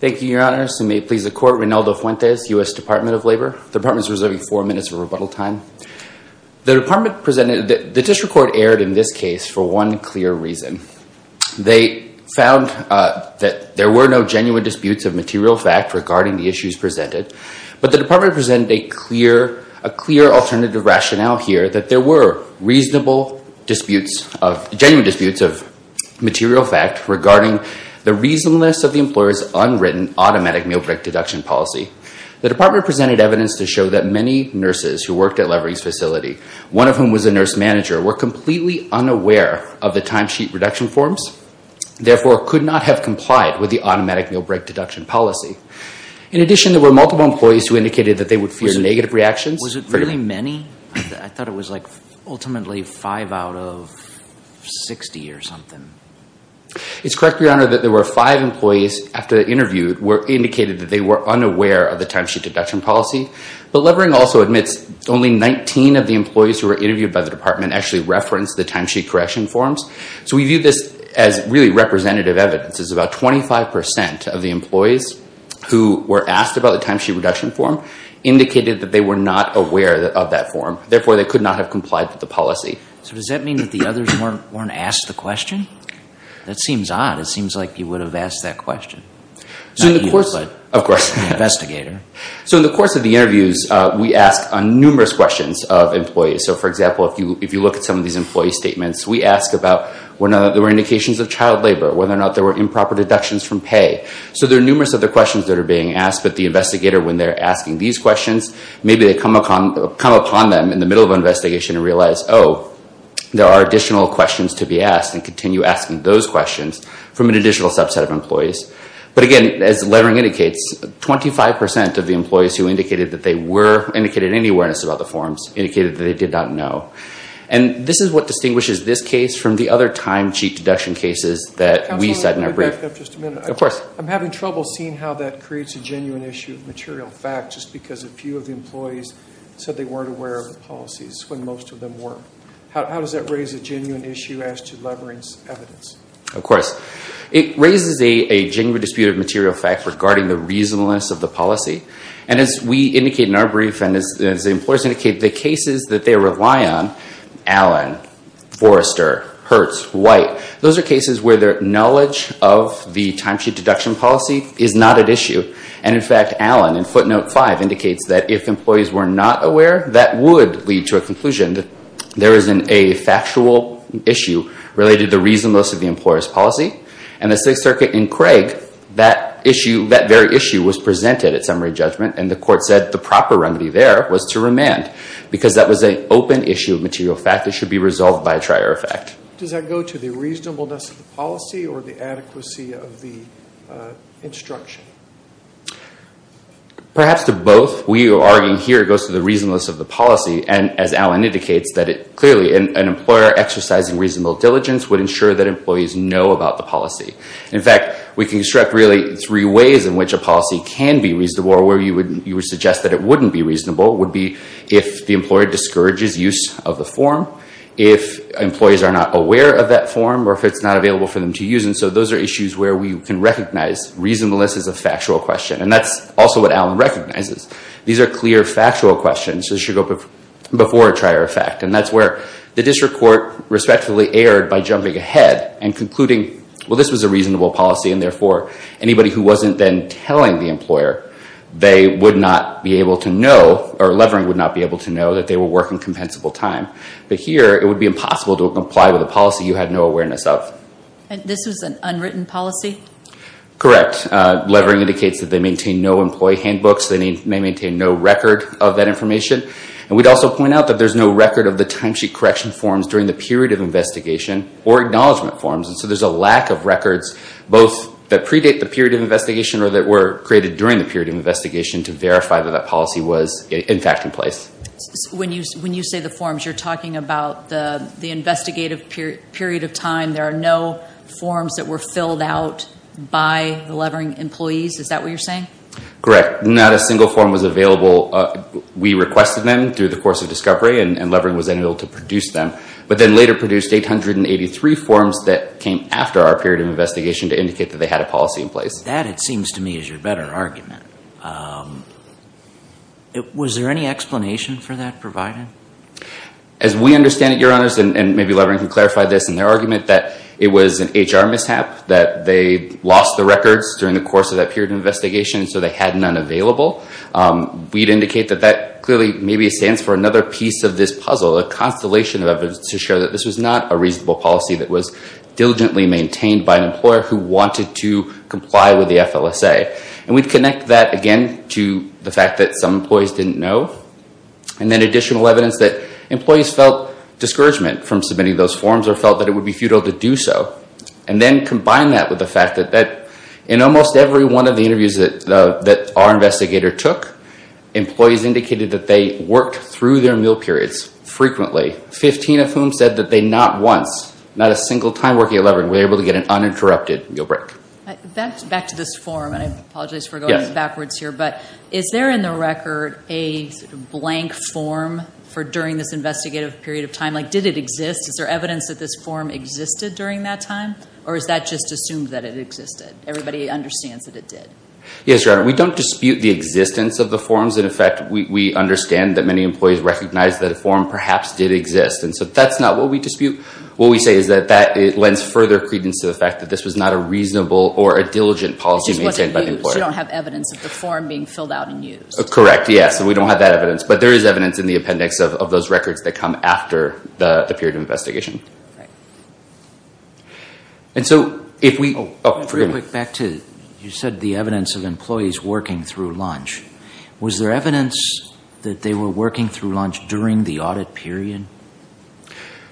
Thank you, Your Honors, and may it please the Court, Rinaldo Fuentes, U.S. Department of Labor. The Department is reserving four minutes of rebuttal time. The District Court erred in this case for one clear reason. They found that there were no genuine disputes of material fact regarding the issues presented, but the Department presented a clear alternative rationale here that there were reasonable disputes, genuine disputes of material fact regarding the reasonableness of the employer's unwritten automatic meal break deduction policy. The Department presented evidence to show that many nurses who worked at Levering's correction forms therefore could not have complied with the automatic meal break deduction policy. In addition, there were multiple employees who indicated that they would fear negative reactions. Was it really many? I thought it was, like, ultimately five out of 60 or something. It's correct, Your Honor, that there were five employees after the interview indicated that they were unaware of the timesheet deduction policy, but Levering also admits only 19 of the employees who were interviewed by the Department actually referenced the timesheet correction forms. So we view this as really representative evidence, as about 25 percent of the employees who were asked about the timesheet reduction form indicated that they were not aware of that form, therefore they could not have complied with the policy. So does that mean that the others weren't asked the question? That seems odd. It seems like you would have asked that question. Not you, but the investigator. So in the course of the interviews, we asked numerous questions of employees. So, for example, if you look at some of these employee statements, we asked about whether or not there were indications of child labor, whether or not there were improper deductions from pay. So there are numerous other questions that are being asked, but the investigator, when they're asking these questions, maybe they come upon them in the middle of an investigation and realize, oh, there are additional questions to be asked, and continue asking those questions from an additional subset of employees. But again, as Levering indicates, 25 percent of the employees who indicated that they were And this is what distinguishes this case from the other timesheet deduction cases that we set in our brief. Counselor, if I could back up just a minute. Of course. I'm having trouble seeing how that creates a genuine issue of material fact, just because a few of the employees said they weren't aware of the policies when most of them were. How does that raise a genuine issue as to Levering's evidence? Of course. It raises a genuine dispute of material fact regarding the reasonableness of the policy. And as we indicate in our brief, and as the employers indicate, the cases that they rely on, Allen, Forrester, Hertz, White, those are cases where their knowledge of the timesheet deduction policy is not at issue. And in fact, Allen, in footnote five, indicates that if employees were not aware, that would lead to a conclusion that there is a factual issue related to reasonableness of the employer's policy. And the Sixth Circuit in Craig, that issue, that very issue was presented at summary judgment and the court said the proper remedy there was to remand. Because that was an open issue of material fact that should be resolved by a trier effect. Does that go to the reasonableness of the policy or the adequacy of the instruction? Perhaps to both. We are arguing here it goes to the reasonableness of the policy. And as Allen indicates, that it clearly, an employer exercising reasonable diligence would ensure that employees know about the policy. In fact, we can construct really three ways in which a policy can be reasonable or where you would suggest that it wouldn't be reasonable, would be if the employer discourages use of the form, if employees are not aware of that form, or if it's not available for them to use. And so those are issues where we can recognize reasonableness is a factual question. And that's also what Allen recognizes. These are clear factual questions that should go before a trier effect. And that's where the district court respectfully erred by jumping ahead and concluding, well, this was a reasonable policy and therefore, anybody who wasn't then telling the employer, they would not be able to know, or Levering would not be able to know that they were working compensable time. But here, it would be impossible to comply with a policy you had no awareness of. This was an unwritten policy? Correct. Levering indicates that they maintain no employee handbooks, they maintain no record of that information. And we'd also point out that there's no record of the timesheet correction forms during the period of investigation or acknowledgment forms. And so there's a lack of records, both that predate the period of investigation or that were created during the period of investigation to verify that that policy was, in fact, in When you say the forms, you're talking about the investigative period of time. There are no forms that were filled out by the Levering employees, is that what you're saying? Correct. Not a single form was available. We requested them through the course of discovery, and Levering was then able to produce them. But then later produced 883 forms that came after our period of investigation to indicate that they had a policy in place. That, it seems to me, is your better argument. Was there any explanation for that provided? As we understand it, Your Honors, and maybe Levering can clarify this in their argument, that it was an HR mishap, that they lost the records during the course of that period of investigation, so they had none available. We'd indicate that that clearly maybe stands for another piece of this puzzle, a constellation of evidence to show that this was not a reasonable policy that was diligently maintained by an employer who wanted to comply with the FLSA. And we'd connect that again to the fact that some employees didn't know, and then additional evidence that employees felt discouragement from submitting those forms or felt that it would be futile to do so. And then combine that with the fact that in almost every one of the interviews that are investigator took, employees indicated that they worked through their meal periods frequently, 15 of whom said that they not once, not a single time working at Levering, were able to get an uninterrupted meal break. Back to this form, and I apologize for going backwards here, but is there in the record a blank form for during this investigative period of time? Did it exist? Is there evidence that this form existed during that time, or is that just assumed that it existed? Everybody understands that it did. Yes, Your Honor. We don't dispute the existence of the forms. In effect, we understand that many employees recognize that a form perhaps did exist. And so that's not what we dispute. What we say is that it lends further credence to the fact that this was not a reasonable or a diligent policy maintained by the employer. It just wasn't used. You don't have evidence of the form being filled out and used. Correct, yes. We don't have that evidence. But there is evidence in the appendix of those records that come after the period of investigation. And so if we... Oh, forgive me. Back to, you said the evidence of employees working through lunch. Was there evidence that they were working through lunch during the audit period?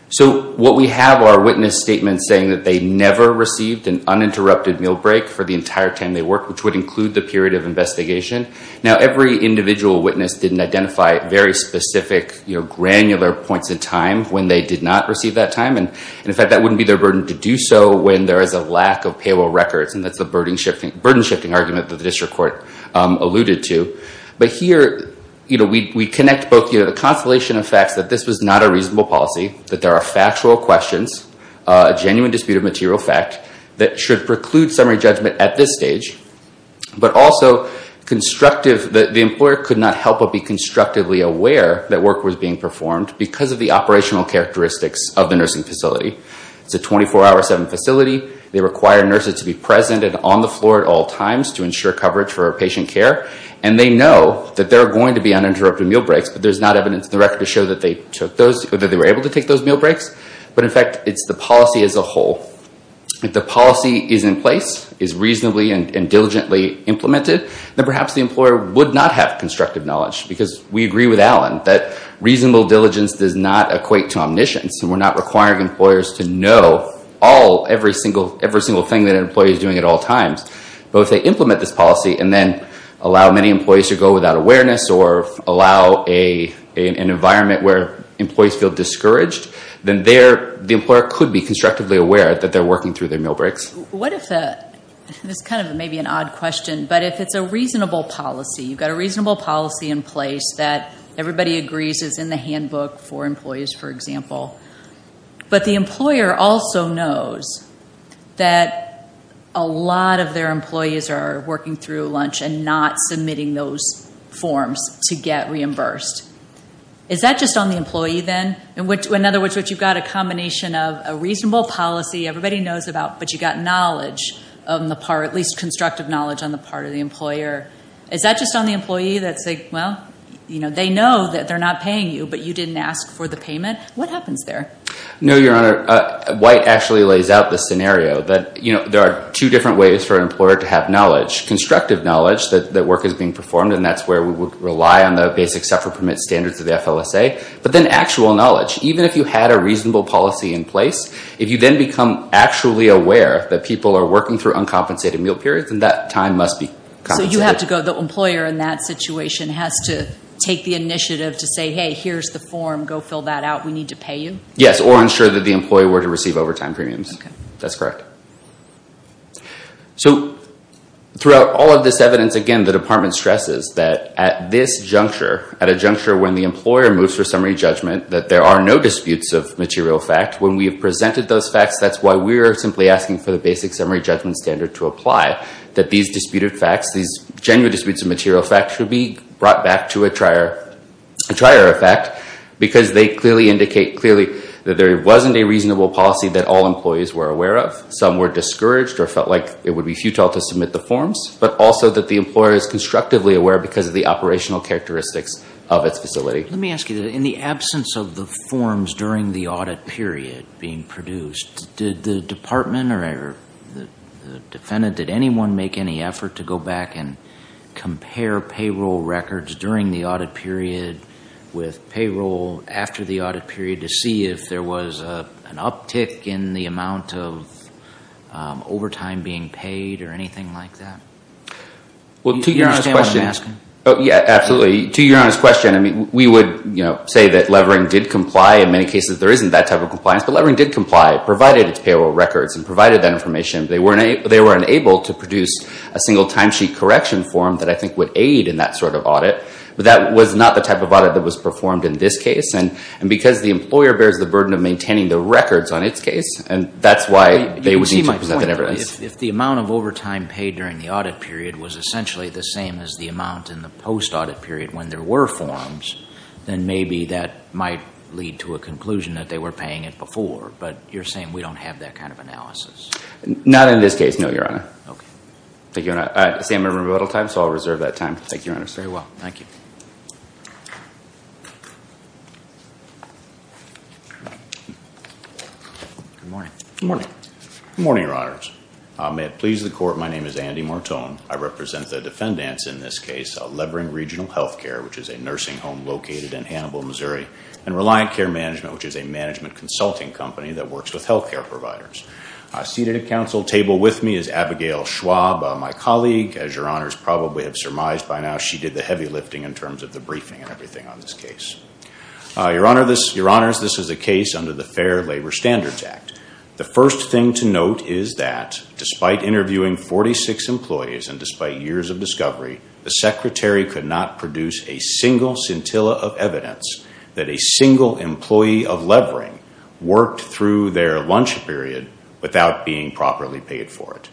So what we have are witness statements saying that they never received an uninterrupted meal break for the entire time they worked, which would include the period of investigation. Now, every individual witness didn't identify very specific, granular points in time when they did not receive that time. And in fact, that wouldn't be their burden to do so when there is a lack of payroll records. And that's the burden-shifting argument that the district court alluded to. But here, we connect both the constellation of facts that this was not a reasonable policy, that there are factual questions, a genuine dispute of material fact that should preclude summary judgment at this stage, but also constructive... That the employer could not help but be constructively aware that work was being performed because of the operational characteristics of the nursing facility. It's a 24-hour, seven-facility. They require nurses to be present and on the floor at all times to ensure coverage for patient care. And they know that there are going to be uninterrupted meal breaks, but there's not evidence in the record to show that they were able to take those meal breaks. But in fact, it's the policy as a whole. If the policy is in place, is reasonably and diligently implemented, then perhaps the employer would not have constructive knowledge. Because we agree with Alan that reasonable diligence does not equate to omniscience. And we're not requiring employers to know every single thing that an employee is doing at all times. But if they implement this policy and then allow many employees to go without awareness or allow an environment where employees feel discouraged, then the employer could be constructively aware that they're working through their meal breaks. What if the... This kind of may be an odd question, but if it's a reasonable policy, you've got a reasonable policy in place that everybody agrees is in the handbook for employees, for example. But the employer also knows that a lot of their employees are working through lunch and not submitting those forms to get reimbursed. Is that just on the employee then? In other words, you've got a combination of a reasonable policy everybody knows about, but you've got knowledge on the part, at least constructive knowledge on the part of the employer. Is that just on the employee that's like, well, they know that they're not paying you, but you didn't ask for the payment? What happens there? No, Your Honor. White actually lays out the scenario that there are two different ways for an employer to have knowledge. Constructive knowledge that work is being performed, and that's where we would rely on the basic suffer permit standards of the FLSA. But then actual knowledge. Even if you had a reasonable policy in place, if you then become actually aware that people are working through uncompensated meal periods, then that time must be compensated. So the employer in that situation has to take the initiative to say, hey, here's the form. Go fill that out. We need to pay you? Yes, or ensure that the employee were to receive overtime premiums. That's correct. So throughout all of this evidence, again, the Department stresses that at this juncture, at a juncture when the employer moves for summary judgment, that there are no disputes of material fact. When we have presented those facts, that's why we are simply asking for the basic summary judgment standard to apply. That these disputed facts, these genuine disputes of material facts should be brought back to a trier effect, because they clearly indicate clearly that there wasn't a reasonable policy that all employees were aware of. Some were discouraged or felt like it would be futile to submit the forms. But also that the employer is constructively aware because of the operational characteristics of its facility. Let me ask you, in the absence of the forms during the audit period being produced, did the Department or the defendant, did anyone make any effort to go back and compare payroll records during the audit period with payroll after the audit period to see if there was an uptick in the amount of overtime being paid or anything like that? Well, to your honest question. Do you understand what I'm asking? Yes, absolutely. To your honest question. We would say that Levering did comply. In many cases, there isn't that type of compliance. But Levering did comply, provided its payroll records and provided that information. They were unable to produce a single timesheet correction form that I think would aid in that sort of audit. But that was not the type of audit that was performed in this case. And because the employer bears the burden of maintaining the records on its case, and that's why they would need to present that evidence. If the amount of overtime paid during the audit period was essentially the same as the amount in the post-audit period when there were forms, then maybe that might lead to a conclusion that they were paying it before. But you're saying we don't have that kind of analysis. Not in this case, no, Your Honor. Okay. Thank you, Your Honor. I see I'm in remodeled time, so I'll reserve that time. Thank you, Your Honor. Very well. Thank you. Good morning. Good morning. Good morning, Your Honors. May it please the Court, my name is Andy Mortone. I represent the defendants in this case of Levering Regional Health Care, which is a management consulting company that works with health care providers. Seated at Council table with me is Abigail Schwab, my colleague. As Your Honors probably have surmised by now, she did the heavy lifting in terms of the briefing and everything on this case. Your Honors, this is a case under the Fair Labor Standards Act. The first thing to note is that despite interviewing 46 employees and despite years of discovery, the Secretary could not produce a single scintilla of evidence that a single employee of Levering worked through their lunch period without being properly paid for it.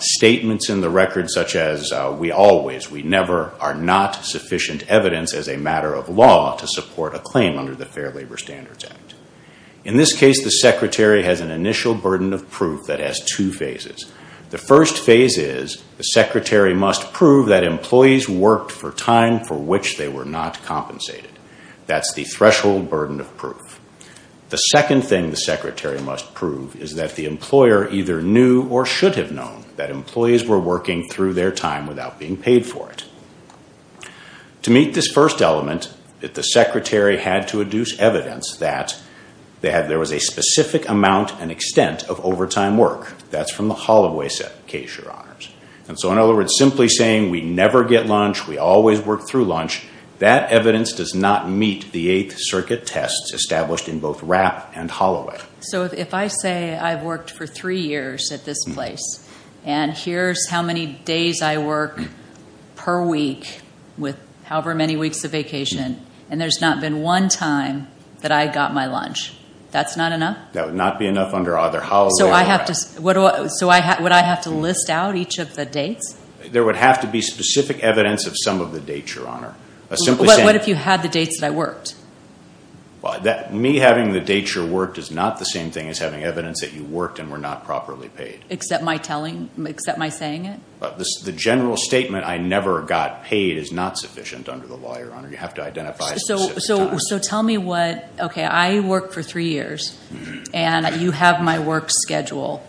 Statements in the record such as, we always, we never, are not sufficient evidence as a matter of law to support a claim under the Fair Labor Standards Act. In this case, the Secretary has an initial burden of proof that has two phases. The first phase is the Secretary must prove that employees worked for time for which they were not compensated. That's the threshold burden of proof. The second thing the Secretary must prove is that the employer either knew or should have known that employees were working through their time without being paid for it. To meet this first element, the Secretary had to adduce evidence that there was a specific amount and extent of overtime work. That's from the Holloway case, Your Honors. So in other words, simply saying we never get lunch, we always work through lunch, that evidence does not meet the Eighth Circuit tests established in both Rapp and Holloway. So if I say I've worked for three years at this place and here's how many days I work per week with however many weeks of vacation and there's not been one time that I got my lunch, that's not enough? That would not be enough under either Holloway or Rapp. So I have to, would I have to list out each of the dates? There would have to be specific evidence of some of the dates, Your Honor. What if you had the dates that I worked? Me having the dates you worked is not the same thing as having evidence that you worked and were not properly paid. Except my telling, except my saying it? The general statement I never got paid is not sufficient under the law, Your Honor. You have to identify specific times. So tell me what, okay, I worked for three years and you have my work schedule,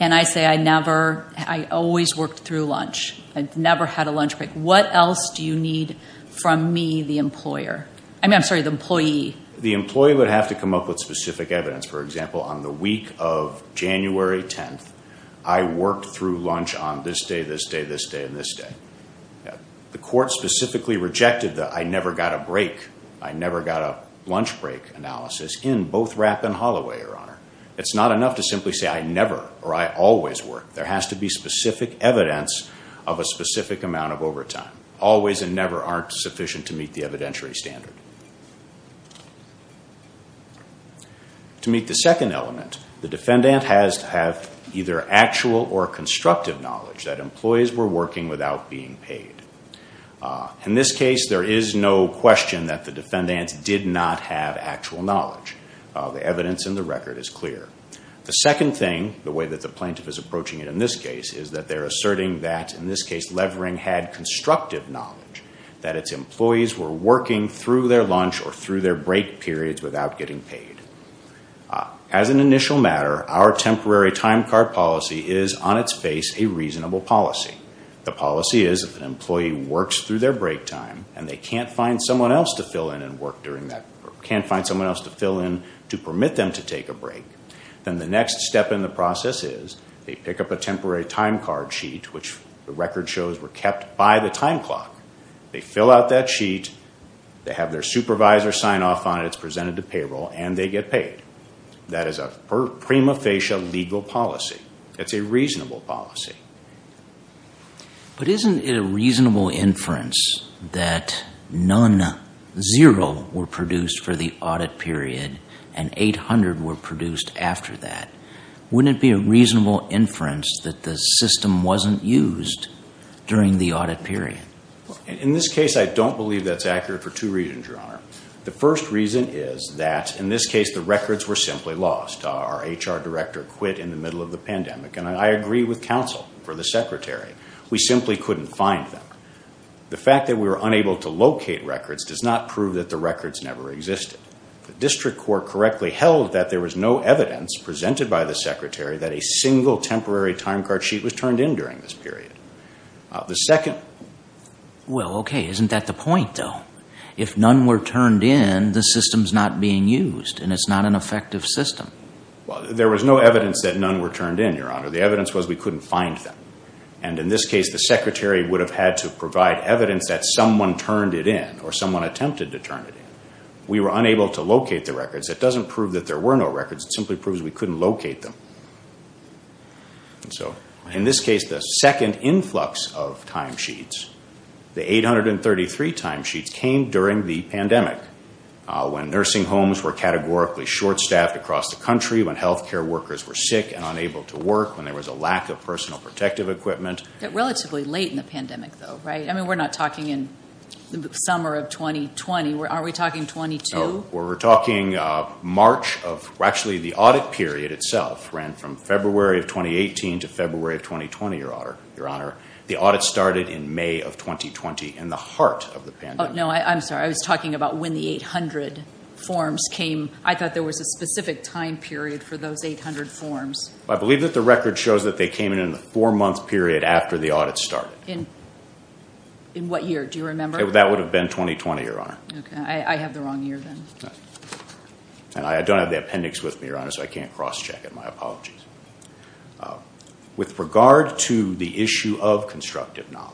and I say I never, I always worked through lunch. I never had a lunch break. What else do you need from me, the employer? I mean, I'm sorry, the employee. The employee would have to come up with specific evidence. For example, on the week of January 10th, I worked through lunch on this day, this day, this day, and this day. The court specifically rejected the I never got a break, I never got a lunch break analysis in both Rapp and Holloway, Your Honor. It's not enough to simply say I never or I always work. There has to be specific evidence of a specific amount of overtime. Always and never aren't sufficient to meet the evidentiary standard. To meet the second element, the defendant has to have either actual or constructive knowledge that employees were working without being paid. In this case, there is no question that the defendant did not have actual knowledge. The evidence in the record is clear. The second thing, the way that the plaintiff is approaching it in this case, is that they're asserting that, in this case, Levering had constructive knowledge that its employees were working through their lunch or through their break periods without getting paid. As an initial matter, our temporary time card policy is, on its face, a reasonable policy. The policy is if an employee works through their break time and they can't find someone else to fill in and work during that, or can't find someone else to fill in to permit them to take a break, then the next step in the process is they pick up a temporary time card sheet, which the record shows were kept by the time clock. They fill out that sheet. They have their supervisor sign off on it. It's presented to payroll, and they get paid. That is a prima facie legal policy. It's a reasonable policy. But isn't it a reasonable inference that none, zero, were produced for the audit period and 800 were produced after that? Wouldn't it be a reasonable inference that the system wasn't used during the audit period? In this case, I don't believe that's accurate for two reasons, Your Honor. The first reason is that, in this case, the records were simply lost. Our HR director quit in the middle of the pandemic. And I agree with counsel for the secretary. We simply couldn't find them. The fact that we were unable to locate records does not prove that the records never existed. The district court correctly held that there was no evidence presented by the secretary that a single temporary time card sheet was turned in during this period. The second... Well, okay, isn't that the point, though? If none were turned in, the system's not being used, and it's not an effective system. Well, there was no evidence that none were turned in, Your Honor. The evidence was we couldn't find them. And in this case, the secretary would have had to provide evidence that someone turned it in or someone attempted to turn it in. We were unable to locate the records. That doesn't prove that there were no records. It simply proves we couldn't locate them. And so, in this case, the second influx of time sheets, the 833 time sheets, came during the pandemic when nursing homes were categorically short-staffed across the country, when health care workers were sick and unable to work, when there was a lack of personal protective equipment. Relatively late in the pandemic, though, right? I mean, we're not talking in the summer of 2020. Aren't we talking 2022? We're talking March of... Actually, the audit period itself ran from February of 2018 to February of 2020, Your Honor. The audit started in May of 2020, in the heart of the pandemic. No, I'm sorry. I was talking about when the 800 forms came. I thought there was a specific time period for those 800 forms. I believe that the record shows that they came in in the four-month period after the audit started. In what year? Do you remember? That would have been 2020, Your Honor. Okay. I have the wrong year then. And I don't have the appendix with me, Your Honor, so I can't cross-check it. My apologies. With regard to the issue of constructive knowledge,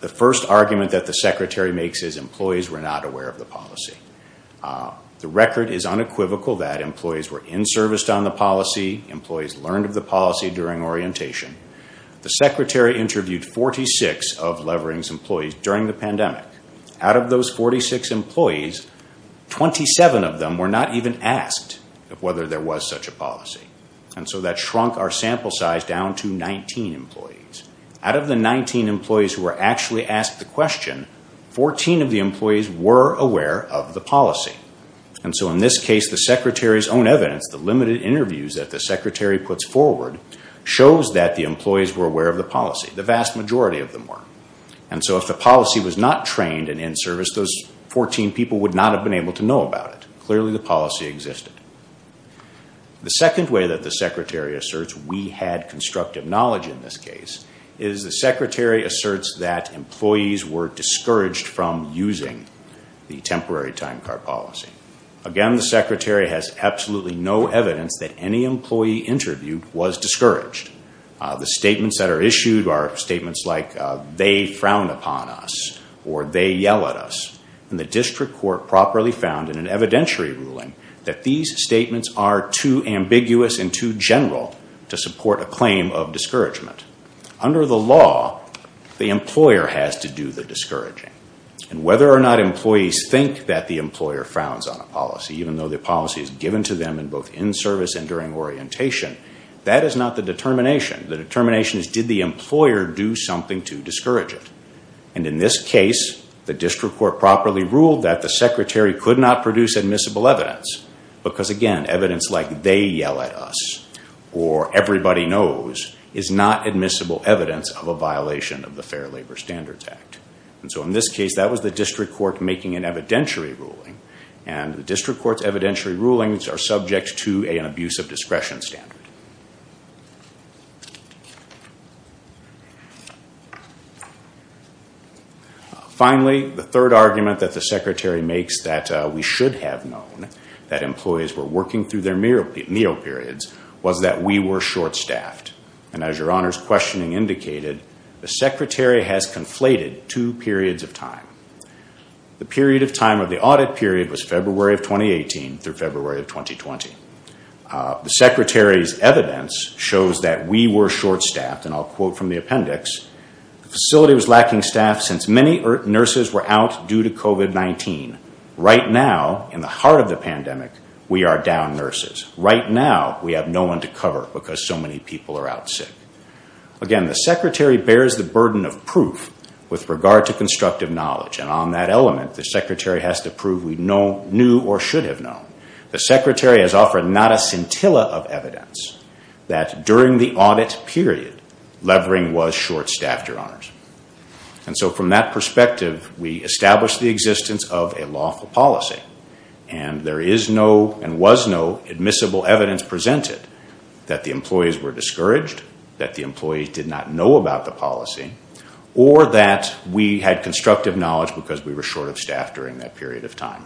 the first argument that the Secretary makes is employees were not aware of the policy. The record is unequivocal that employees were in-serviced on the policy. Employees learned of the policy during orientation. The Secretary interviewed 46 of Levering's employees during the pandemic. Out of those 46 employees, 27 of them were not even asked whether there was such a policy. And so that shrunk our sample size down to 19 employees. Out of the 19 employees who were actually asked the question, 14 of the employees were aware of the policy. And so in this case, the Secretary's own evidence, the limited interviews that the Secretary puts forward, shows that the employees were aware of the policy. The vast majority of them were. And so if the policy was not trained and in-serviced, those 14 people would not have been able to know about it. Clearly the policy existed. The second way that the Secretary asserts we had constructive knowledge in this case is the Secretary asserts that employees were discouraged from using the temporary time card policy. Again, the Secretary has absolutely no evidence that any employee interviewed was discouraged. The statements that are issued are statements like, they frowned upon us or they yell at us. And the district court properly found in an evidentiary ruling that these statements are too ambiguous and too general to support a claim of discouragement. Under the law, the employer has to do the discouraging. And whether or not employees think that the employer frowns on a policy, even though the policy is given to them in both in-service and during orientation, that is not the determination. The determination is did the employer do something to discourage it. And in this case, the district court properly ruled that the Secretary could not produce admissible evidence. Because again, evidence like they yell at us or everybody knows is not admissible evidence of a violation of the Fair Labor Standards Act. And so in this case, that was the district court making an evidentiary ruling. And the district court's evidentiary rulings are subject to an abuse of discretion standard. Finally, the third argument that the Secretary makes that we should have known that employees were working through their meal periods was that we were short-staffed. And as your Honor's questioning indicated, the Secretary has conflated two periods of time. The period of time of the audit period was February of 2018 through February of 2020. The Secretary's evidence shows that we were short-staffed, and I'll quote from the appendix, the facility was lacking staff since many nurses were out due to COVID-19. Right now, in the heart of the pandemic, we are down nurses. Right now, we have no one to cover because so many people are out sick. Again, the Secretary bears the burden of proof with regard to constructive knowledge. And on that element, the Secretary has to prove we knew or should have known. The Secretary has offered not a scintilla of evidence that during the audit period, levering was short-staffed, your Honors. And so from that perspective, we established the existence of a lawful policy. And there is no, and was no, admissible evidence presented that the employees were discouraged, that the employees did not know about the policy, or that we had constructive knowledge because we were short-staffed during that period of time.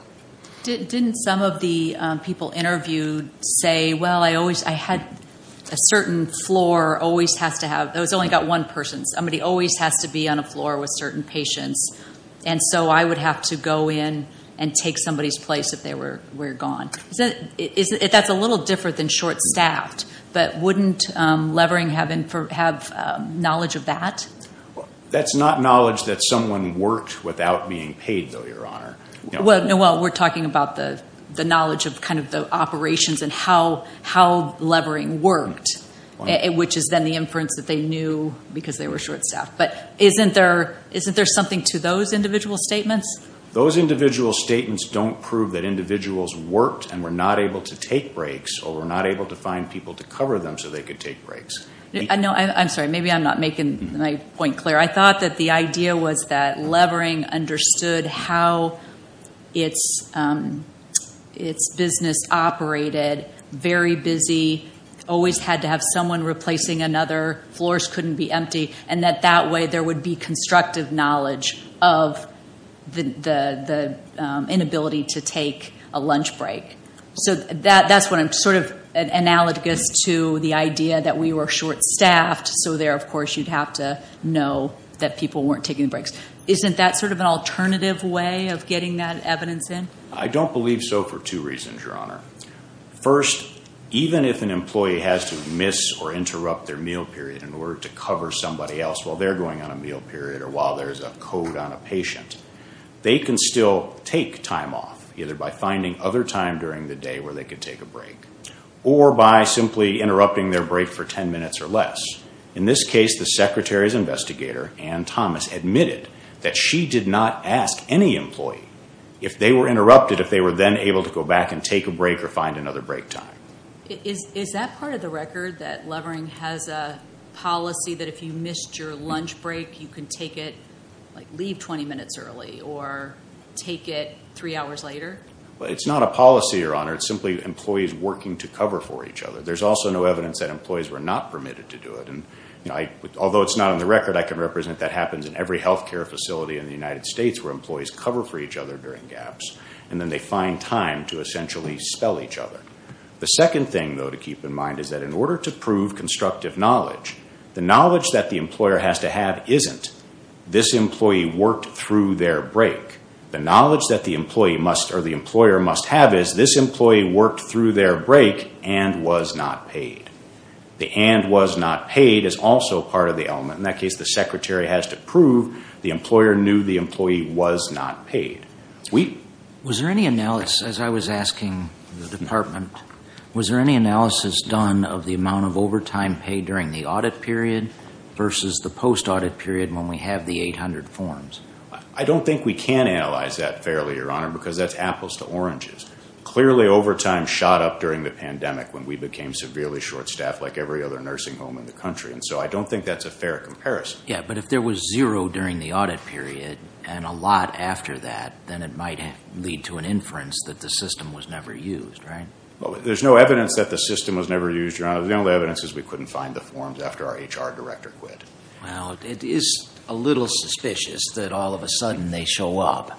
Didn't some of the people interviewed say, well, I had a certain floor always has to have, it's only got one person, somebody always has to be on a floor with certain patients, and so I would have to go in and take somebody's place if they were gone. That's a little different than short-staffed, but wouldn't levering have knowledge of that? That's not knowledge that someone worked without being paid, though, your Honor. Noel, we're talking about the knowledge of kind of the operations and how levering worked, which is then the inference that they knew because they were short-staffed. But isn't there something to those individual statements? Those individual statements don't prove that individuals worked and were not able to take breaks or were not able to find people to cover them so they could take breaks. I'm sorry, maybe I'm not making my point clear. I thought that the idea was that levering understood how its business operated, very busy, always had to have someone replacing another, floors couldn't be empty, and that that way there would be constructive knowledge of the inability to take a lunch break. So that's what I'm sort of analogous to the idea that we were short-staffed, so there, of course, you'd have to know that people weren't taking breaks. Isn't that sort of an alternative way of getting that evidence in? I don't believe so for two reasons, your Honor. First, even if an employee has to miss or interrupt their meal period in order to cover somebody else while they're going on a meal period or while there's a code on a patient, they can still take time off, either by finding other time during the day where they could take a break or by simply interrupting their break for ten minutes or less. In this case, the Secretary's investigator, Ann Thomas, admitted that she did not ask any employee if they were interrupted, but asked if they were then able to go back and take a break or find another break time. Is that part of the record, that Levering has a policy that if you missed your lunch break, you can take it, like, leave 20 minutes early or take it three hours later? It's not a policy, your Honor. It's simply employees working to cover for each other. There's also no evidence that employees were not permitted to do it. Although it's not on the record, I can represent that happens in every health care facility in the United States where employees cover for each other during gaps, and then they find time to essentially spell each other. The second thing, though, to keep in mind is that in order to prove constructive knowledge, the knowledge that the employer has to have isn't this employee worked through their break. The knowledge that the employer must have is this employee worked through their break and was not paid. The and was not paid is also part of the element. In that case, the secretary has to prove the employer knew the employee was not paid. Was there any analysis, as I was asking the department, was there any analysis done of the amount of overtime paid during the audit period versus the post-audit period when we have the 800 forms? I don't think we can analyze that fairly, your Honor, because that's apples to oranges. Clearly, overtime shot up during the pandemic when we became severely short-staffed, like every other nursing home in the country, and so I don't think that's a fair comparison. Yeah, but if there was zero during the audit period and a lot after that, then it might lead to an inference that the system was never used, right? There's no evidence that the system was never used, your Honor. The only evidence is we couldn't find the forms after our HR director quit. Well, it is a little suspicious that all of a sudden they show up.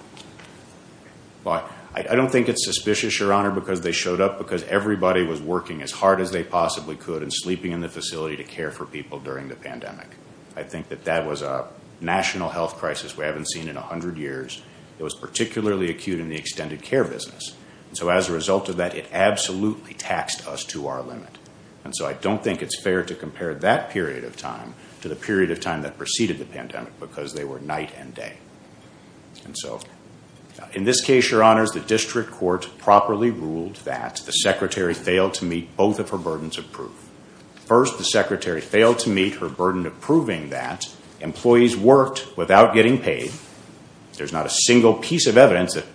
I don't think it's suspicious, your Honor, because they showed up because everybody was working as hard as they possibly could and sleeping in the facility to care for people during the pandemic. I think that that was a national health crisis we haven't seen in 100 years. It was particularly acute in the extended care business. And so as a result of that, it absolutely taxed us to our limit. And so I don't think it's fair to compare that period of time to the period of time that preceded the pandemic because they were night and day. And so in this case, your Honors, the district court properly ruled that the secretary failed to meet both of her burdens of proof. First, the secretary failed to meet her burden of proving that employees worked without getting paid. There's not a single piece of evidence that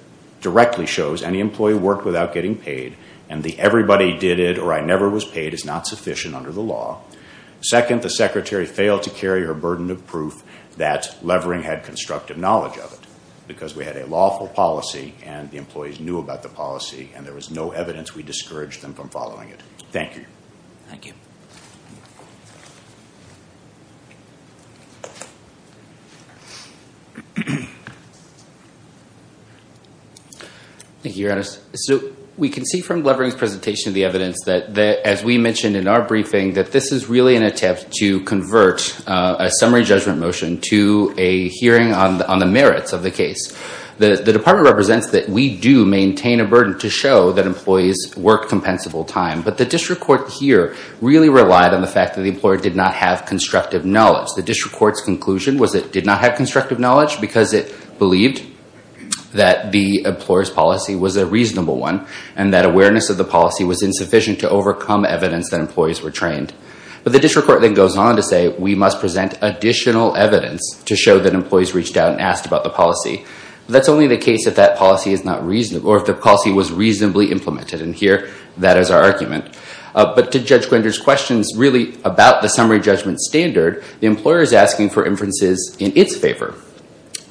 directly shows any employee worked without getting paid, and the everybody did it or I never was paid is not sufficient under the law. Second, the secretary failed to carry her burden of proof that Levering had constructive knowledge of it because we had a lawful policy and the employees knew about the policy and there was no evidence we discouraged them from following it. Thank you. Thank you. Thank you, Your Honors. So we can see from Levering's presentation the evidence that, as we mentioned in our briefing, that this is really an attempt to convert a summary judgment motion to a hearing on the merits of the case. The department represents that we do maintain a burden to show that employees work compensable time, but the district court here really relied on the fact that the employer did not have constructive knowledge. The district court's conclusion was it did not have constructive knowledge because it believed that the employer's policy was a reasonable one and that awareness of the policy was insufficient to overcome evidence that employees were trained. But the district court then goes on to say we must present additional evidence to show that employees reached out and asked about the policy. That's only the case if that policy is not reasonable or if the policy was reasonably implemented, and here that is our argument. But to Judge Gwinder's questions really about the summary judgment standard, the employer is asking for inferences in its favor,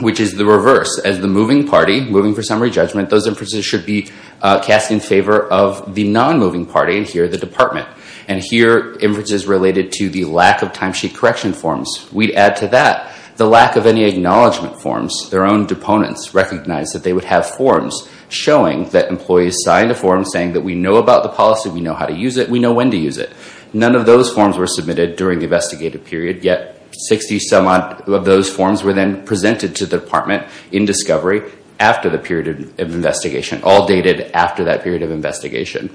which is the reverse. As the moving party, moving for summary judgment, those inferences should be cast in favor of the non-moving party, and here the department. And here, inferences related to the lack of timesheet correction forms. We add to that the lack of any acknowledgment forms. Their own deponents recognized that they would have forms showing that employees signed a form saying that we know about the policy, we know how to use it, we know when to use it. None of those forms were submitted during the investigative period, yet 60-some-odd of those forms were then presented to the department in discovery after the period of investigation, all dated after that period of investigation.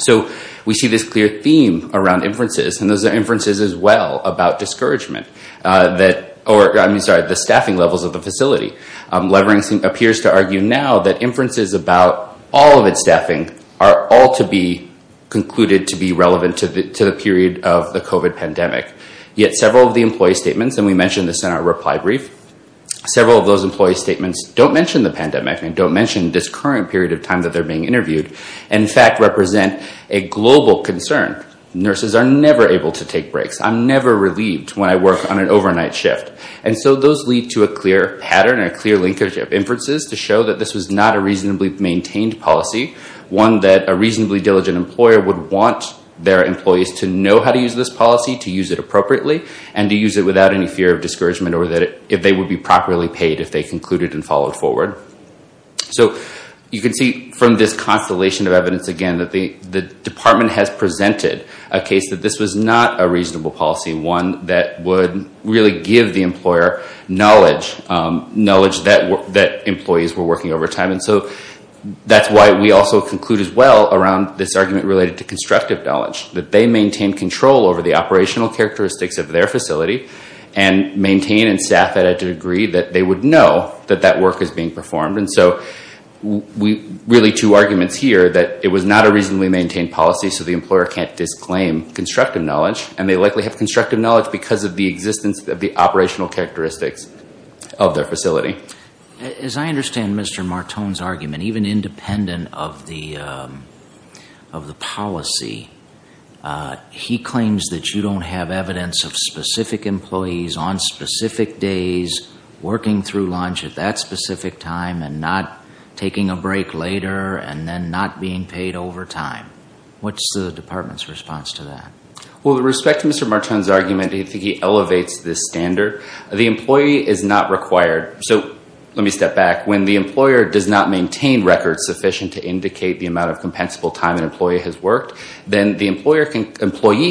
So we see this clear theme around inferences, and those are inferences as well about discouragement. I'm sorry, the staffing levels of the facility. Levering appears to argue now that inferences about all of its staffing are all to be concluded to be relevant to the period of the COVID pandemic. Yet several of the employee statements, and we mentioned this in our reply brief, several of those employee statements don't mention the pandemic and don't mention this current period of time that they're being interviewed. In fact, represent a global concern. Nurses are never able to take breaks. I'm never relieved when I work on an overnight shift. And so those lead to a clear pattern, a clear linkage of inferences to show that this was not a reasonably maintained policy, one that a reasonably diligent employer would want their employees to know how to use this policy, to use it appropriately, and to use it without any fear of discouragement or that if they would be properly paid if they concluded and followed forward. So you can see from this constellation of evidence again that the department has presented a case that this was not a reasonable policy, one that would really give the employer knowledge that employees were working overtime. And so that's why we also conclude as well around this argument related to constructive knowledge, that they maintain control over the operational characteristics of their facility and maintain and staff at a degree that they would know that that work is being performed. And so really two arguments here, that it was not a reasonably maintained policy, so the employer can't disclaim constructive knowledge, and they likely have constructive knowledge because of the existence of the operational characteristics of their facility. As I understand Mr. Martone's argument, even independent of the policy, he claims that you don't have evidence of specific employees on specific days working through lunch at that specific time and not taking a break later and then not being paid overtime. What's the department's response to that? Well, with respect to Mr. Martone's argument, I think he elevates this standard. The employee is not required. So let me step back. When the employer does not maintain records sufficient to indicate the amount of compensable time an employee has worked, then the employee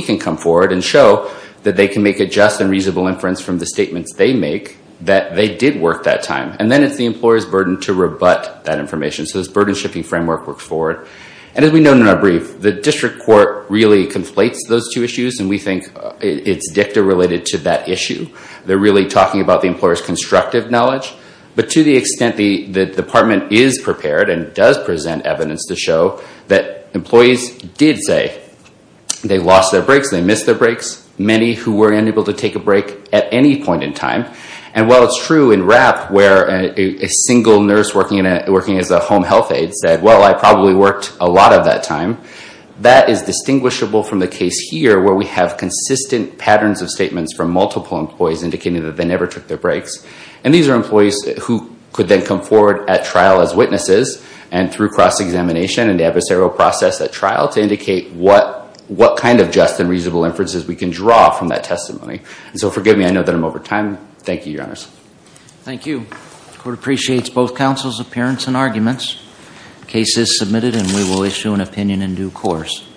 can come forward and show that they can make a just and reasonable inference from the statements they make that they did work that time. And then it's the employer's burden to rebut that information. So this burden-shifting framework works forward. And as we noted in our brief, the district court really conflates those two issues, and we think it's dicta related to that issue. They're really talking about the employer's constructive knowledge. But to the extent the department is prepared and does present evidence to show that employees did say they lost their breaks, they missed their breaks, many who were unable to take a break at any point in time. And while it's true in RAP where a single nurse working as a home health aide said, well, I probably worked a lot of that time, that is distinguishable from the case here where we have consistent patterns of statements from multiple employees indicating that they never took their breaks. And these are employees who could then come forward at trial as witnesses and through cross-examination and adversarial process at trial to indicate what kind of just and reasonable inferences we can draw from that testimony. And so forgive me, I know that I'm over time. Thank you, Your Honor. Thank you. The court appreciates both counsel's appearance and arguments. The case is submitted and we will issue an opinion in due course.